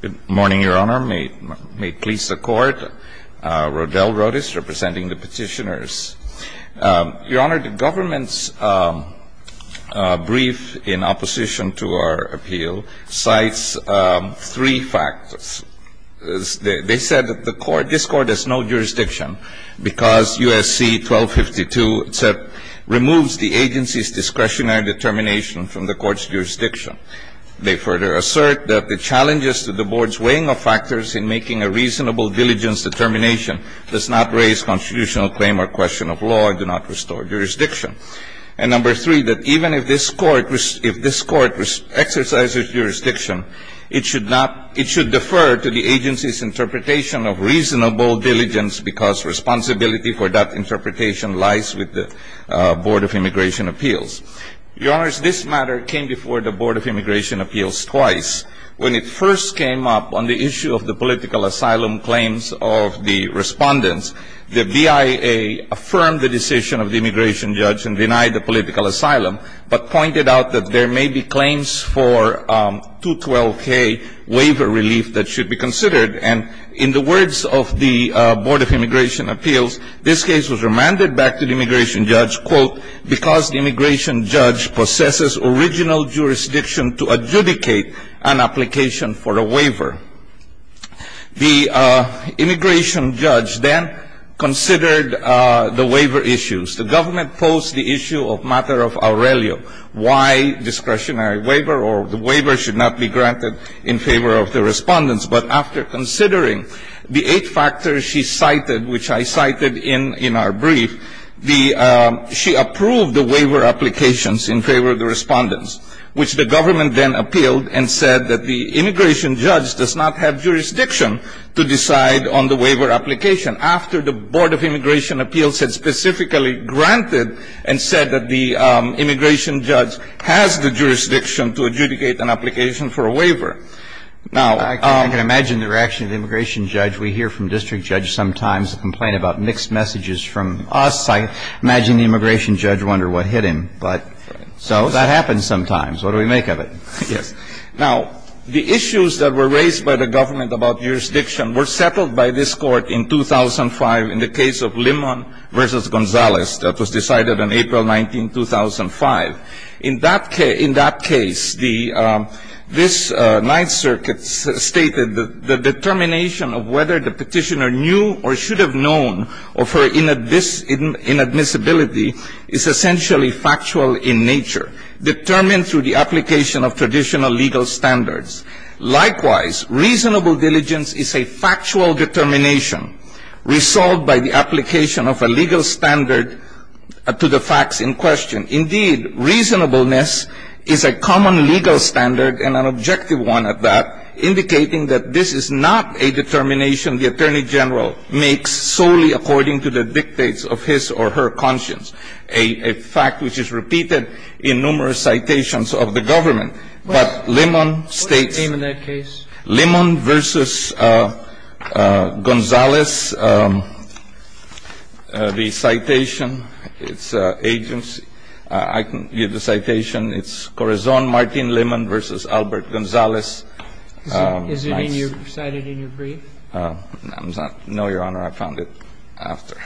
Good morning, Your Honor. May it please the Court. Rodel Rodis, representing the petitioners. Your Honor, the government's brief in opposition to our appeal cites three factors. They said that this Court has no jurisdiction because U.S.C. 1252 removes the agency's discretionary determination from the Court's jurisdiction. They further assert that the challenges to the Board's weighing of factors in making a reasonable diligence determination does not raise constitutional claim or question of law and do not restore jurisdiction. And number three, that even if this Court exercises jurisdiction, it should defer to the agency's interpretation of reasonable diligence because responsibility for that interpretation lies with the Board of Immigration Appeals. Your Honor, this matter came before the Board of Immigration Appeals twice. When it first came up on the issue of the political asylum claims of the respondents, the BIA affirmed the decision of the immigration judge and denied the political asylum, but pointed out that there may be claims for 212K waiver relief that should be considered. And in the words of the Board of Immigration Appeals, this case was remanded back to the immigration judge, quote, because the immigration judge possesses original jurisdiction to adjudicate an application for a waiver. The immigration judge then considered the waiver issues. The government posed the issue of matter of Aurelio, why discretionary waiver or the waiver should not be granted in favor of the respondents. But after considering the eight factors she cited, which I cited in our brief, she approved the waiver applications in favor of the respondents, which the government then appealed and said that the immigration judge does not have jurisdiction to decide on the waiver application. After the Board of Immigration Appeals had specifically granted and said that the immigration judge has the jurisdiction to adjudicate an application for a waiver. Now, I can imagine the reaction of the immigration judge. We hear from district judges sometimes a complaint about mixed messages from us. I imagine the immigration judge wondered what hit him, but so that happens sometimes. What do we make of it? Yes. Now, the issues that were raised by the government about jurisdiction were settled by this court in 2005 in the case of Limon v. Gonzalez that was decided on April 19, 2005. In that case, this Ninth Circuit stated that the determination of whether the petitioner knew or should have known of her inadmissibility is essentially factual in nature, determined through the application of traditional legal standards. Likewise, reasonable diligence is a factual determination resolved by the application of a legal standard to the facts in question. Indeed, reasonableness is a common legal standard and an objective one at that, Now, in the case of Limon v. Gonzalez, there is a fact which is repeated in numerous citations of the government, but Limon states. What's the name of that case? Limon v. Gonzalez, the citation, its agency. I can give the citation. It's Corazon Martin Limon v. Albert Gonzalez. Is it cited in your brief? No, Your Honor. I found it after.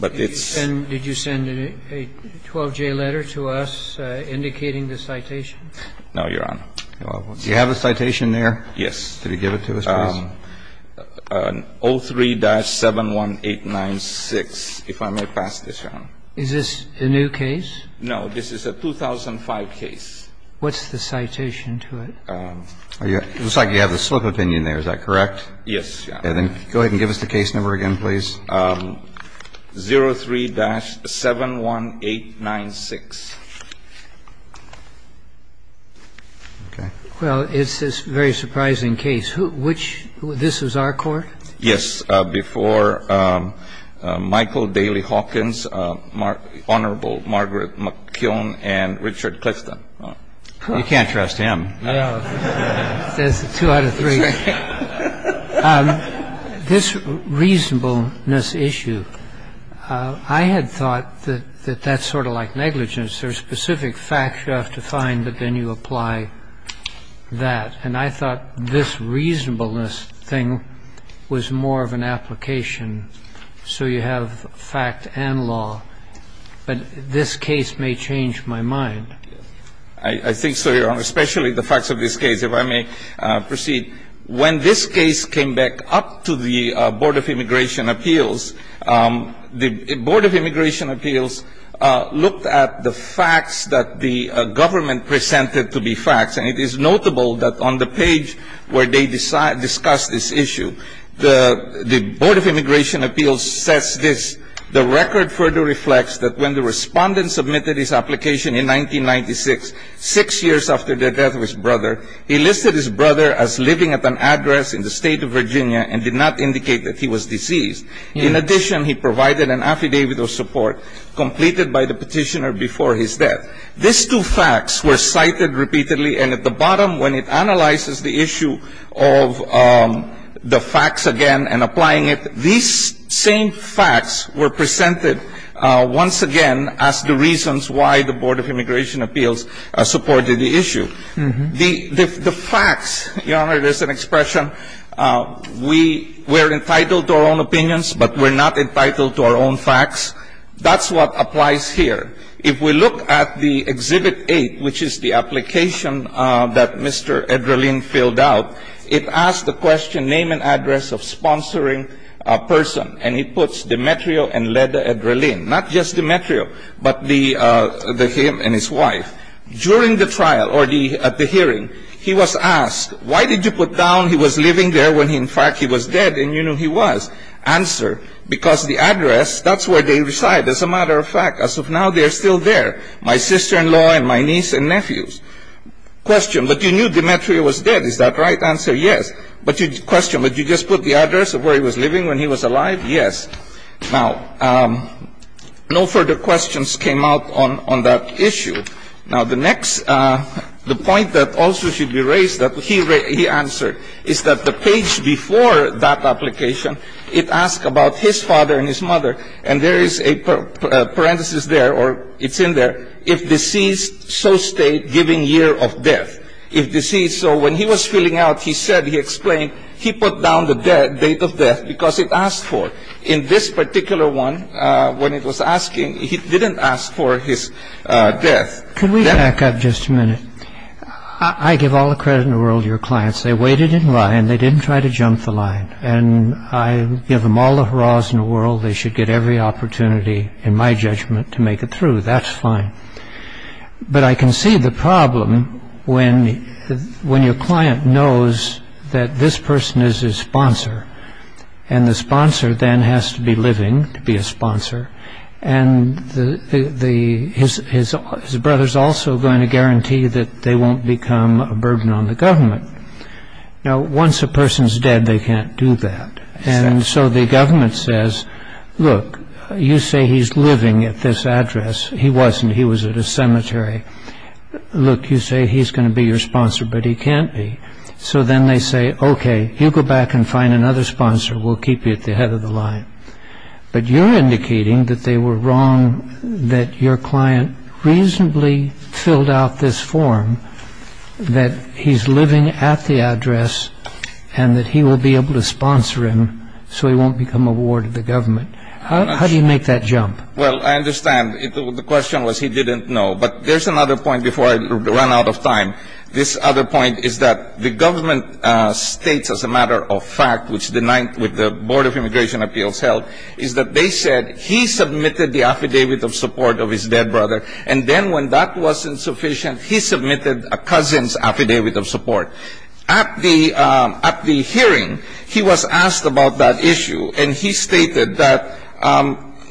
But it's. Did you send a 12-J letter to us indicating the citation? No, Your Honor. Do you have a citation there? Yes. 03-71896, if I may pass this, Your Honor. Is this a new case? No. This is a 2005 case. What's the citation to it? It looks like you have the slip of opinion there. Is that correct? Yes, Your Honor. Then go ahead and give us the case number again, please. 03-71896. Okay. Well, it's this very surprising case. Which this was our court? Yes. Before Michael Daley Hawkins, Honorable Margaret McKeown, and Richard Clifton. You can't trust him. That's a two out of three. This reasonableness issue, I had thought that that's sort of like negligence. There are specific facts you have to find, but then you apply that. And I thought this reasonableness thing was more of an application. So you have fact and law. But this case may change my mind. I think so, Your Honor, especially the facts of this case. If I may proceed. When this case came back up to the Board of Immigration Appeals, the Board of Immigration Appeals looked at the facts that the government presented to be facts. And it is notable that on the page where they discuss this issue, the Board of Immigration Appeals says this. The record further reflects that when the respondent submitted his application in 1996, six years after the death of his brother, he listed his brother as living at an address in the state of Virginia and did not indicate that he was diseased. In addition, he provided an affidavit of support completed by the petitioner before his death. These two facts were cited repeatedly. And at the bottom, when it analyzes the issue of the facts again and applying it, these same facts were presented once again as the reasons why the Board of Immigration Appeals supported the issue. The facts, Your Honor, there's an expression, we're entitled to our own opinions, but we're not entitled to our own facts. That's what applies here. If we look at the Exhibit 8, which is the application that Mr. Edralin filled out, it asks the question, name and address of sponsoring person. And it puts Demetrio and Leda Edralin. Not just Demetrio, but him and his wife. During the trial, or at the hearing, he was asked, why did you put down he was living there when, in fact, he was dead? And you know he was. Answer, because the address, that's where they reside. As a matter of fact, as of now, they are still there, my sister-in-law and my niece and nephews. Question, but you knew Demetrio was dead. Is that right? Answer, yes. Question, but you just put the address of where he was living when he was alive? Yes. Now, no further questions came out on that issue. Now, the next, the point that also should be raised that he answered is that the page before that application, it asks about his father and his mother, and there is a parenthesis there, or it's in there, if deceased, so state, given year of death. If deceased, so when he was filling out, he said, he explained, he put down the date of death because it asked for it. In this particular one, when it was asking, he didn't ask for his death. Can we back up just a minute? I give all the credit in the world to your clients. They waited in line. They didn't try to jump the line, and I give them all the hurrahs in the world. They should get every opportunity, in my judgment, to make it through. That's fine. But I can see the problem when your client knows that this person is his sponsor, and the sponsor then has to be living to be a sponsor, and his brother is also going to Once a person is dead, they can't do that. The government says, look, you say he's living at this address. He wasn't. He was at a cemetery. Look, you say he's going to be your sponsor, but he can't be. So then they say, okay, you go back and find another sponsor. We'll keep you at the head of the line. But you're indicating that they were wrong, that your client reasonably filled out this that he's living at the address, and that he will be able to sponsor him so he won't become a ward of the government. How do you make that jump? Well, I understand. The question was he didn't know. But there's another point before I run out of time. This other point is that the government states as a matter of fact, which the Board of Immigration Appeals held, is that they said he submitted the affidavit of support of his dead brother, and then when that wasn't sufficient, he submitted a cousin's affidavit of support. At the hearing, he was asked about that issue, and he stated that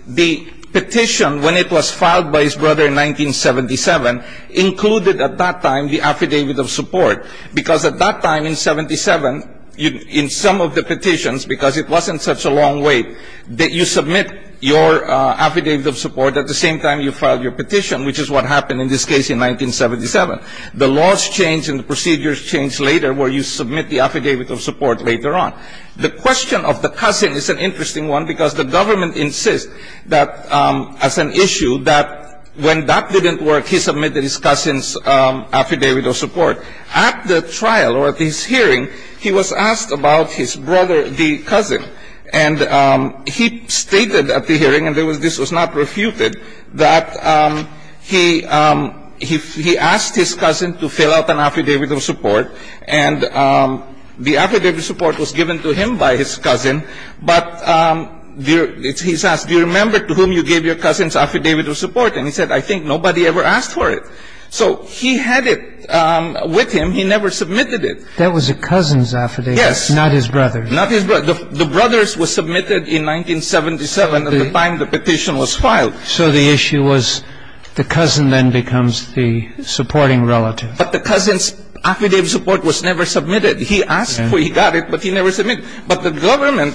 the petition, when it was filed by his brother in 1977, included at that time the affidavit of support, because at that time in 77, in some of the petitions, because it wasn't such a long wait, that you submit your affidavit of support at the same time you filed your petition, which is what happened in this case in 1977. The laws changed and the procedures changed later where you submit the affidavit of support later on. The question of the cousin is an interesting one, because the government insists that as an issue, that when that didn't work, he submitted his cousin's affidavit of support. At the trial or at this hearing, he was asked about his brother, the cousin, and he stated at the hearing, and this was not refuted, that he asked his cousin to fill out an affidavit of support, and the affidavit of support was given to him by his cousin, but he's asked, do you remember to whom you gave your cousin's affidavit of support? And he said, I think nobody ever asked for it. So he had it with him. He never submitted it. That was a cousin's affidavit. Yes. Not his brother's. Not his brother's. The brother's was submitted in 1977 at the time the petition was filed. So the issue was the cousin then becomes the supporting relative. But the cousin's affidavit of support was never submitted. He asked for it, he got it, but he never submitted it. But the government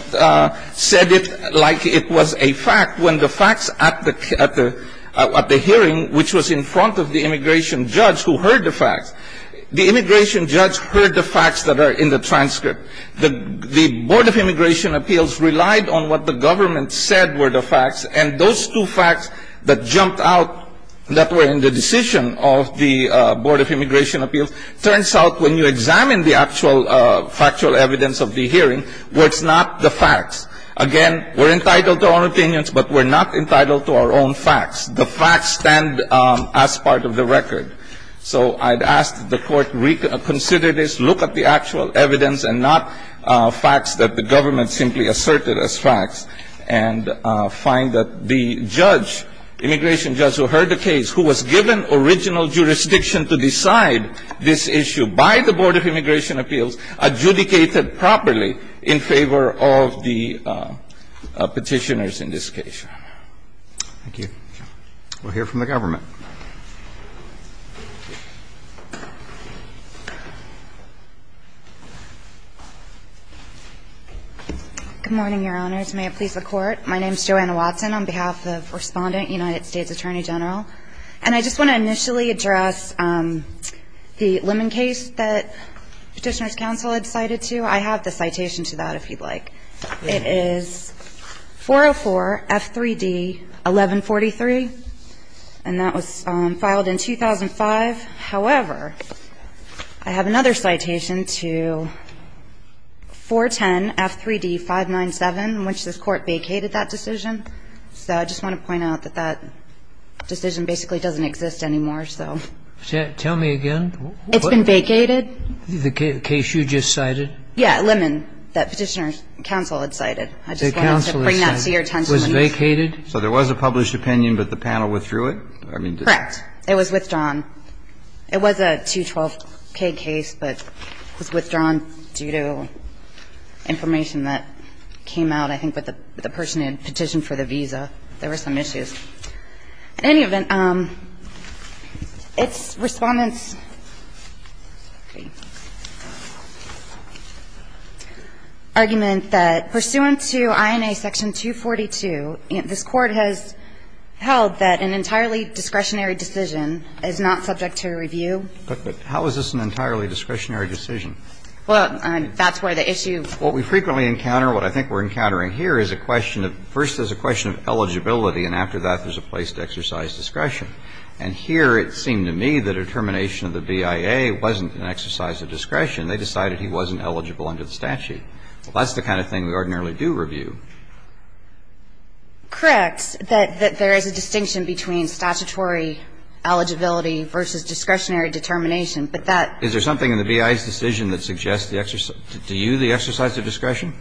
said it like it was a fact when the facts at the hearing, which was in front of the immigration judge who heard the facts, the immigration judge heard the facts that are in the transcript. The Board of Immigration Appeals relied on what the government said were the facts, and those two facts that jumped out that were in the decision of the Board of Immigration Appeals turns out when you examine the actual factual evidence of the hearing, where it's not the facts. Again, we're entitled to our opinions, but we're not entitled to our own facts. The facts stand as part of the record. So I'd ask that the Court reconsider this, look at the actual evidence and not facts that the government simply asserted as facts, and find that the judge, immigration judge who heard the case, who was given original jurisdiction to decide this issue by the Board of Immigration Appeals, adjudicated properly in favor of the Petitioners in this case. Thank you. We'll hear from the government. Good morning, Your Honors. May it please the Court. My name is Joanna Watson on behalf of Respondent, United States Attorney General. And I just want to initially address the Lemon case that Petitioners' Counsel had cited to. I have the citation to that, if you'd like. It is 404-F3D-1143, and that was filed in 2005. However, I have another citation to 410-F3D-597, in which this Court vacated that decision. So I just want to point out that that decision basically doesn't exist anymore, so. Tell me again. It's been vacated. The case you just cited? Yeah, Lemon, that Petitioners' Counsel had cited. I just wanted to bring that to your attention. It was vacated? So there was a published opinion, but the panel withdrew it? Correct. It was withdrawn. It was a 212-K case, but it was withdrawn due to information that came out, I think, with the person who had petitioned for the visa. There were some issues. In any event, its Respondent's argument that pursuant to INA section 242, this Court has held that an entirely discretionary decision is not subject to review. But how is this an entirely discretionary decision? Well, that's where the issue is. What we frequently encounter, what I think we're encountering here, is a question of eligibility, and after that there's a place to exercise discretion. And here it seemed to me the determination of the BIA wasn't an exercise of discretion. They decided he wasn't eligible under the statute. Well, that's the kind of thing we ordinarily do review. Correct, that there is a distinction between statutory eligibility versus discretionary determination, but that ---- Is there something in the BIA's decision that suggests to you the exercise of discretion?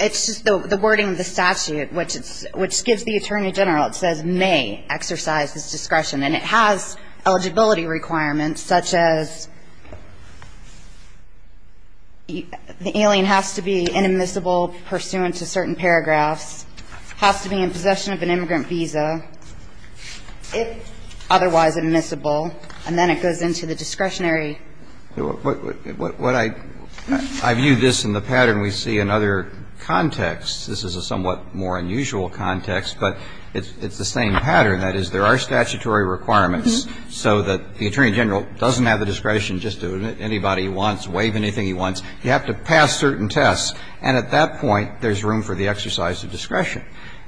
It's just the wording of the statute, which gives the Attorney General, it says, may exercise this discretion. And it has eligibility requirements such as the alien has to be inadmissible pursuant to certain paragraphs, has to be in possession of an immigrant visa, if otherwise admissible, and then it goes into the discretionary. What I ---- I view this in the pattern we see in other contexts. This is a somewhat more unusual context, but it's the same pattern. That is, there are statutory requirements so that the Attorney General doesn't have the discretion just to admit anybody he wants, waive anything he wants. You have to pass certain tests. And at that point, there's room for the exercise of discretion.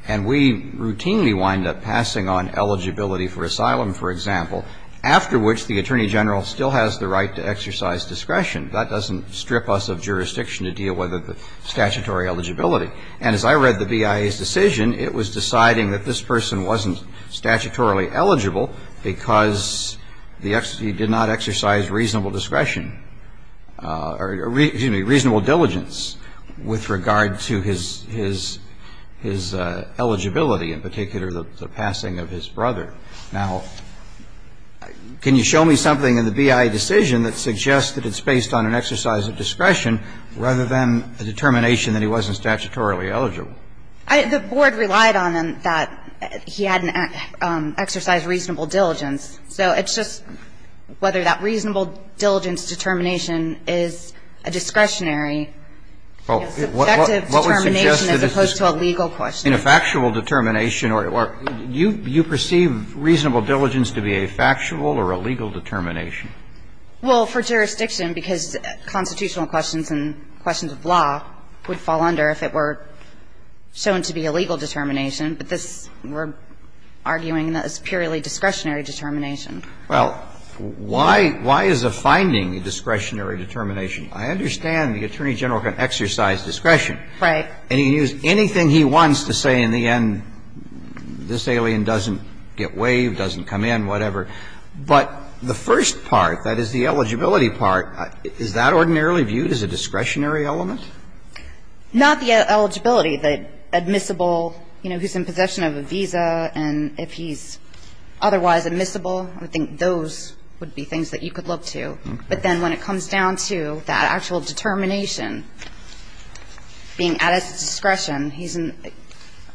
And we routinely wind up passing on eligibility for asylum, for example, after which the Attorney General still has the right to exercise discretion. That doesn't strip us of jurisdiction to deal with the statutory eligibility. And as I read the BIA's decision, it was deciding that this person wasn't statutorily eligible because he did not exercise reasonable discretion or, excuse me, reasonable diligence with regard to his eligibility, in particular the passing of his brother. Now, can you show me something in the BIA decision that suggests that it's based on an exercise of discretion rather than a determination that he wasn't statutorily eligible? The board relied on that he hadn't exercised reasonable diligence. So it's just whether that reasonable diligence determination is a discretionary subjective determination as opposed to a legal question. In a factual determination, or you perceive reasonable diligence to be a factual or a legal determination? Well, for jurisdiction, because constitutional questions and questions of law would fall under if it were shown to be a legal determination, but this, we're arguing that it's purely discretionary determination. Well, why is a finding a discretionary determination? I understand the Attorney General can exercise discretion. Right. And he can use anything he wants to say in the end, this alien doesn't get waived, doesn't come in, whatever. But the first part, that is the eligibility part, is that ordinarily viewed as a discretionary element? Not the eligibility. The admissible, you know, he's in possession of a visa, and if he's otherwise admissible, I think those would be things that you could look to. But then when it comes down to that actual determination, being at his discretion, he's in the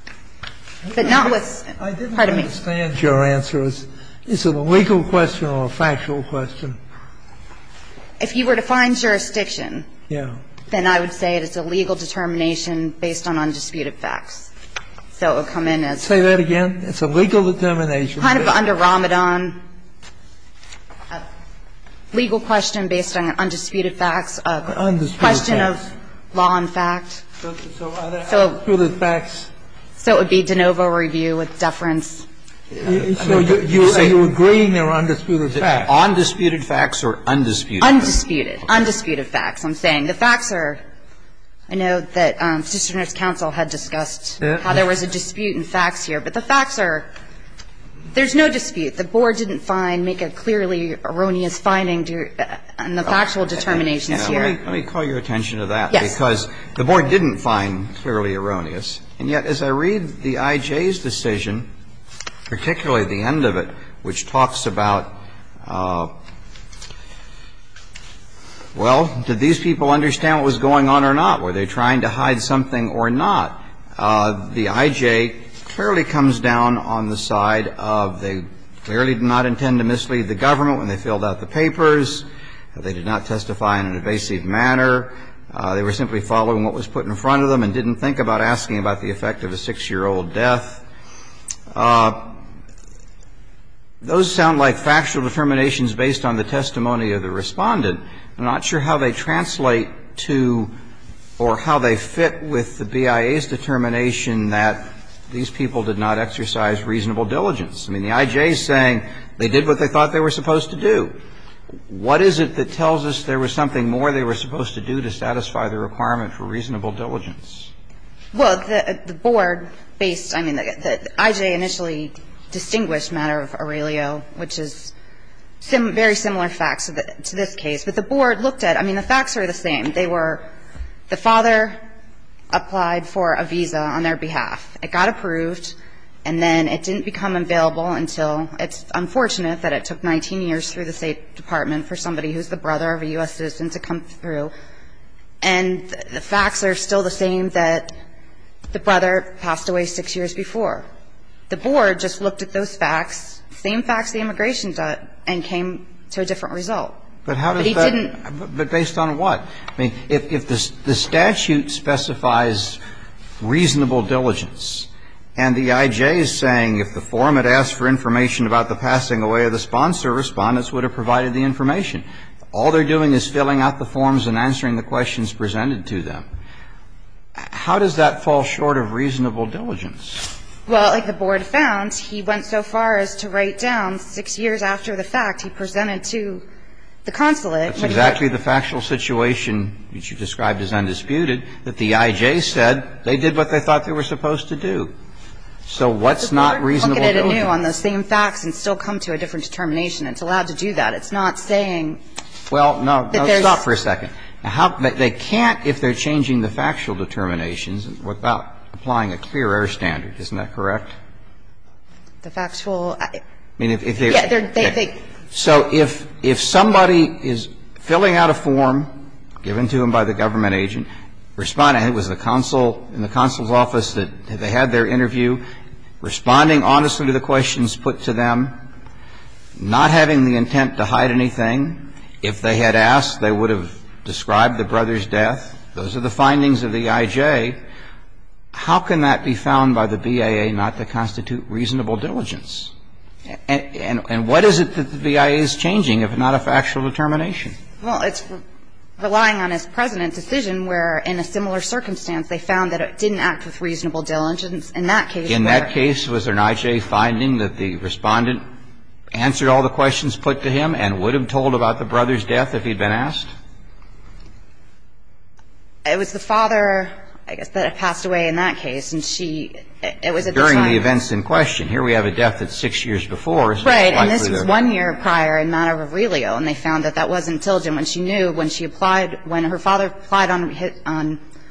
– but not with – pardon me. I didn't understand your answer. Is it a legal question or a factual question? If you were to find jurisdiction. Yeah. Then I would say it's a legal determination based on undisputed facts. So it would come in as – Say that again. It's a legal determination. Kind of under Ramadan. Legal question based on undisputed facts. Undisputed facts. A question of law and fact. So are there undisputed facts? So it would be de novo review with deference. So you're agreeing there are undisputed facts. Undisputed facts or undisputed facts? Undisputed. Undisputed facts, I'm saying. The facts are – I know that the District Attorney's counsel had discussed how there was a dispute in facts here. But the facts are – there's no dispute. The board didn't find – make a clearly erroneous finding in the factual determinations here. Let me call your attention to that. Yes. Because the board didn't find clearly erroneous. And yet, as I read the IJ's decision, particularly the end of it, which talks about – well, did these people understand what was going on or not? Were they trying to hide something or not? The IJ clearly comes down on the side of they clearly did not intend to mislead the government when they filled out the papers. They did not testify in an evasive manner. They were simply following what was put in front of them and didn't think about asking about the effect of a 6-year-old death. Those sound like factual determinations based on the testimony of the Respondent. I'm not sure how they translate to or how they fit with the BIA's determination that these people did not exercise reasonable diligence. I mean, the IJ is saying they did what they thought they were supposed to do. What is it that tells us there was something more they were supposed to do to satisfy the requirement for reasonable diligence? Well, the board based – I mean, the IJ initially distinguished matter of Aurelio, which is very similar facts to this case. But the board looked at – I mean, the facts are the same. They were – the father applied for a visa on their behalf. It got approved, and then it didn't become available until – it's unfortunate that it took 19 years through the State Department for somebody who's the brother of a U.S. citizen to come through. And the facts are still the same that the brother passed away 6 years before. The board just looked at those facts, same facts the immigration judge, and came to a different result. But he didn't – But how does that – but based on what? I mean, if the statute specifies reasonable diligence, and the IJ is saying if the forum had asked for information about the passing away of the sponsor, Respondents would have provided the information. All they're doing is filling out the forms and answering the questions presented to them. How does that fall short of reasonable diligence? Well, like the board found, he went so far as to write down 6 years after the fact he presented to the consulate. That's exactly the factual situation which you described as undisputed, that the IJ said they did what they thought they were supposed to do. So what's not reasonable diligence? The board can look at it anew on those same facts and still come to a different determination. It's allowed to do that. Well, no. Stop for a second. I mean, how – they can't, if they're changing the factual determinations, without applying a clear air standard. Isn't that correct? The factual – I mean, if they're – Yeah, they're – So if somebody is filling out a form given to them by the government agent, Respondent was the consul in the consul's office that they had their interview, responding honestly to the questions put to them, not having the intent to hide anything, if they had asked, they would have described the brother's death. Those are the findings of the IJ. How can that be found by the BIA not to constitute reasonable diligence? And what is it that the BIA is changing, if not a factual determination? Well, it's relying on his President's decision where, in a similar circumstance, they found that it didn't act with reasonable diligence. In that case, there are – In that case, was there an IJ finding that the Respondent answered all the questions put to him and would have told about the brother's death if he'd been asked? It was the father, I guess, that had passed away in that case, and she – It was at this time. During the events in question. Here we have a death that's six years before. Right. And this was one year prior in Mano Rivelio, and they found that that wasn't diligent when she knew when she applied – when her father applied on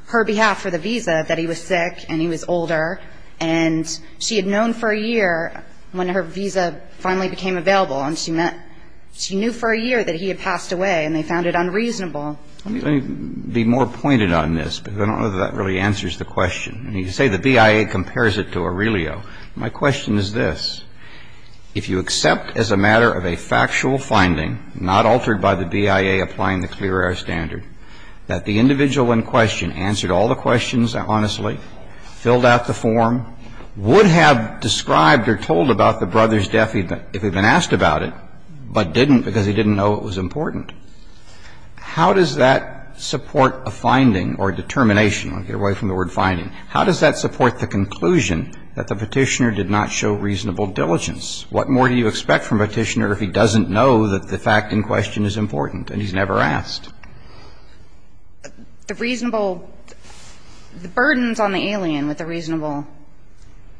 her behalf for the visa that he was sick and he was older. And she had known for a year when her visa finally became available, and she knew for a year that he had passed away, and they found it unreasonable. Let me be more pointed on this, because I don't know that that really answers the question. You say the BIA compares it to Aurelio. My question is this. If you accept as a matter of a factual finding, not altered by the BIA applying the clear air standard, that the individual in question answered all the questions honestly, filled out the form, would have described or told about the brother's death if he'd been asked about it, but didn't because he didn't know it was important. How does that support a finding or determination? I'll get away from the word finding. How does that support the conclusion that the petitioner did not show reasonable diligence? What more do you expect from a petitioner if he doesn't know that the fact in question is important and he's never asked? The reasonable – the burden's on the alien with the reasonable.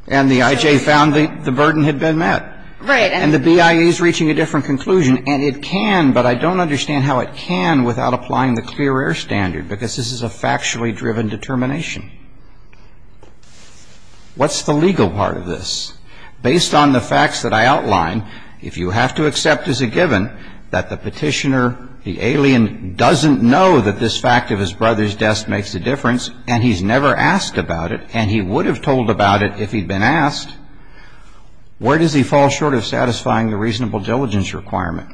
And the IJ found the burden had been met. Right. And the BIA is reaching a different conclusion, and it can, but I don't understand how it can without applying the clear air standard, because this is a factually driven determination. What's the legal part of this? Based on the facts that I outlined, if you have to accept as a given that the petitioner, the alien, doesn't know that this fact of his brother's death makes a difference and he's never asked about it, and he would have told about it if he'd been asked, where does he fall short of satisfying the reasonable diligence requirement?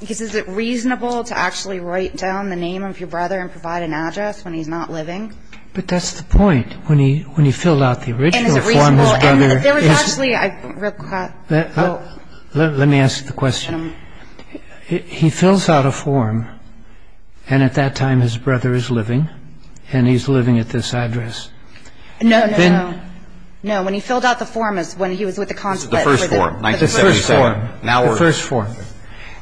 Because is it reasonable to actually write down the name of your brother and provide an address when he's not living? But that's the point. When he filled out the original form, his brother – And is it reasonable? And there was actually – Let me ask the question. He fills out a form, and at that time his brother is living, and he's living at this address. No, no, no. No, when he filled out the form is when he was with the consulate. The first form, 1977. The first form.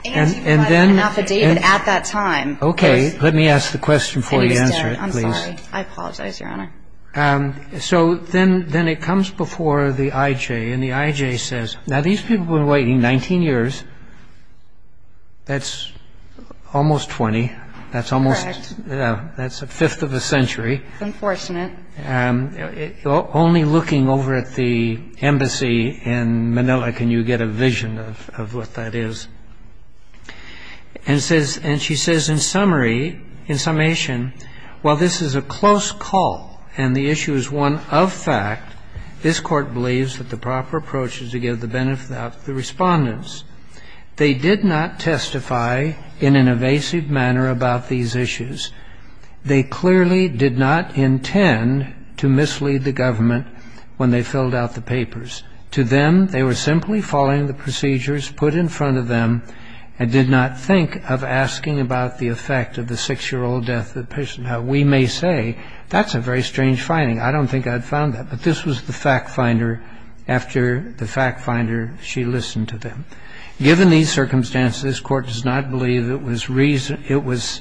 And he provided an affidavit at that time. Okay. Let me ask the question before you answer it, please. I'm sorry. I apologize, Your Honor. So then it comes before the IJ, and the IJ says, Now these people have been waiting 19 years. That's almost 20. That's almost – Correct. That's a fifth of a century. Unfortunate. Only looking over at the embassy in Manila can you get a vision of what that is. And she says in summary, in summation, While this is a close call and the issue is one of fact, this court believes that the proper approach is to give the benefit to the respondents. They did not testify in an evasive manner about these issues. They clearly did not intend to mislead the government when they filled out the papers. To them, they were simply following the procedures put in front of them and did not think of asking about the effect of the six-year-old death petition. Now, we may say, that's a very strange finding. I don't think I'd found that. But this was the fact finder. After the fact finder, she listened to them. Given these circumstances, this court does not believe it was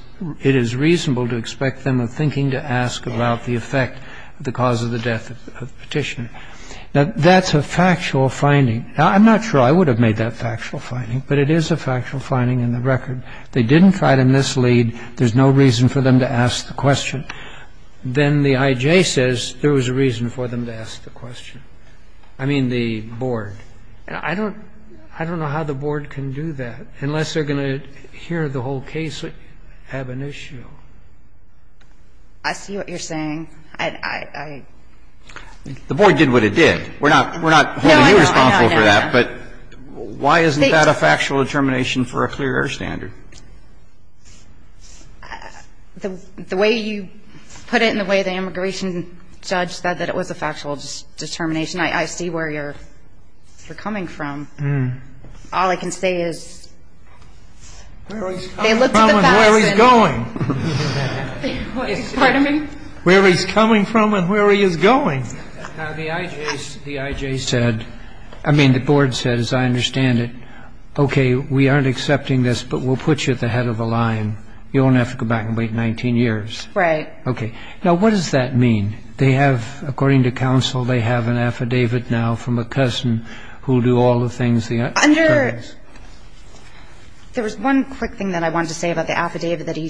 – it is reasonable to expect them of thinking to ask about the effect of the cause of the death petition. Now, that's a factual finding. Now, I'm not sure I would have made that factual finding. But it is a factual finding in the record. They didn't try to mislead. There's no reason for them to ask the question. Then the I.J. says there was a reason for them to ask the question. I mean the board. I don't know how the board can do that unless they're going to hear the whole case have an issue. I see what you're saying. The board did what it did. We're not holding you responsible for that. But why isn't that a factual determination for a clear air standard? The way you put it and the way the immigration judge said that it was a factual determination, I see where you're coming from. All I can say is they looked at the facts and – Where he's coming from and where he's going. Pardon me? Where he's coming from and where he is going. Now, the I.J. said – I mean the board said, as I understand it, okay, we aren't accepting this, but we'll put you at the head of the line. You won't have to go back and wait 19 years. Right. Okay. Now, what does that mean? They have – according to counsel, they have an affidavit now from a cousin who will do all the things the judge says. Under – there was one quick thing that I wanted to say about the affidavit that he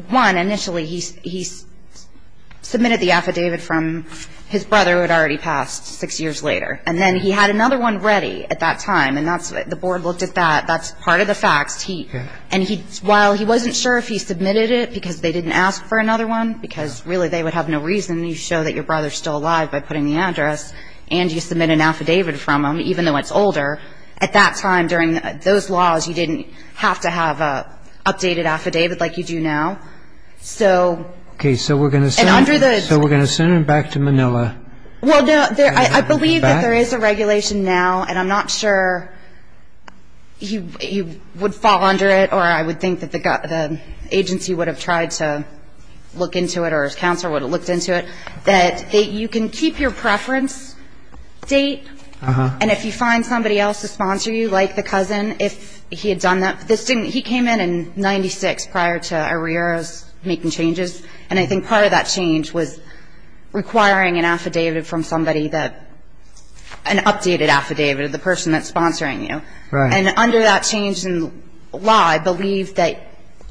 – one, initially he submitted the affidavit from his brother who had already passed six years later. And then he had another one ready at that time. And that's – the board looked at that. That's part of the facts. And he – while he wasn't sure if he submitted it because they didn't ask for another one, because really they would have no reason to show that your brother is still alive by putting the address, and you submitted an affidavit from him, even though it's older, at that time, during those laws, you didn't have to have an updated affidavit like you do now. So – Okay. So we're going to send him back to Manila. Well, no. I believe that there is a regulation now, and I'm not sure he would fall under it, or I would think that the agency would have tried to look into it or a counselor would have looked into it, that you can keep your preference date. Uh-huh. And if you find somebody else to sponsor you, like the cousin, if he had done that – this didn't – he came in in 96 prior to Arrear's making changes, and I think part of that change was requiring an affidavit from somebody that – an updated affidavit of the person that's sponsoring you. Right. And under that change in law, I believe that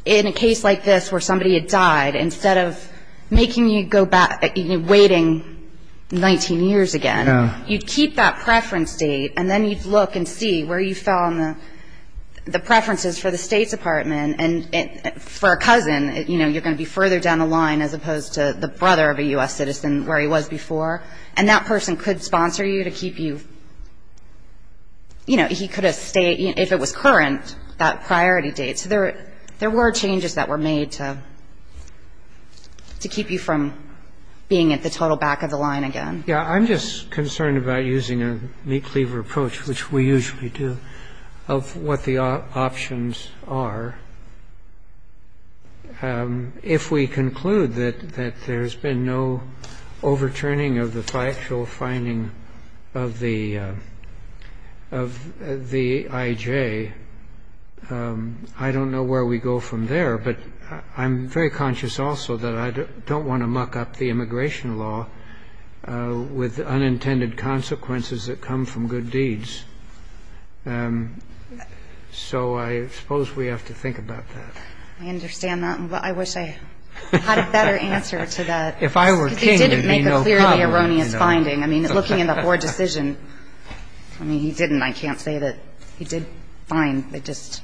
in a case like this where somebody had died, instead of making you go back – waiting 19 years again, you'd keep that preference date, and then you'd look and see where you fell on the preferences for the State Department, and for a cousin, you know, you're going to be further down the line as opposed to the brother of a U.S. citizen where he was before, and that person could sponsor you to keep you – you know, he could have stayed – if it was current, that priority date. So there were changes that were made to keep you from being at the total back of the line again. Yeah. I'm just concerned about using a meat cleaver approach, which we usually do, of what the options are. If we conclude that there's been no overturning of the factual finding of the – of the I.J., I don't know where we go from there. But I'm very conscious also that I don't want to muck up the immigration law with unintended consequences that come from good deeds. So I suppose we have to think about that. I understand that. I wish I had a better answer to that. If I were King, there'd be no problem. Because he didn't make a clearly erroneous finding. I mean, looking in the Hoare decision, I mean, he didn't. And I can't say that he did fine. They just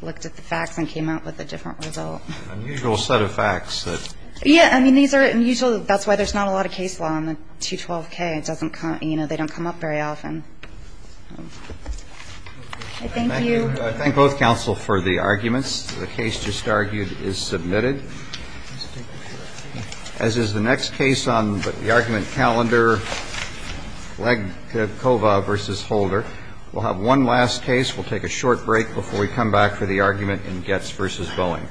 looked at the facts and came out with a different result. An unusual set of facts. Yeah. I mean, these are unusual. That's why there's not a lot of case law on the 212K. It doesn't come – you know, they don't come up very often. Thank you. I thank both counsel for the arguments. The case just argued is submitted. As is the next case on the argument calendar, Legkova v. Holder. We'll have one last case. We'll take a short break before we come back for the argument in Goetz v. Boeing.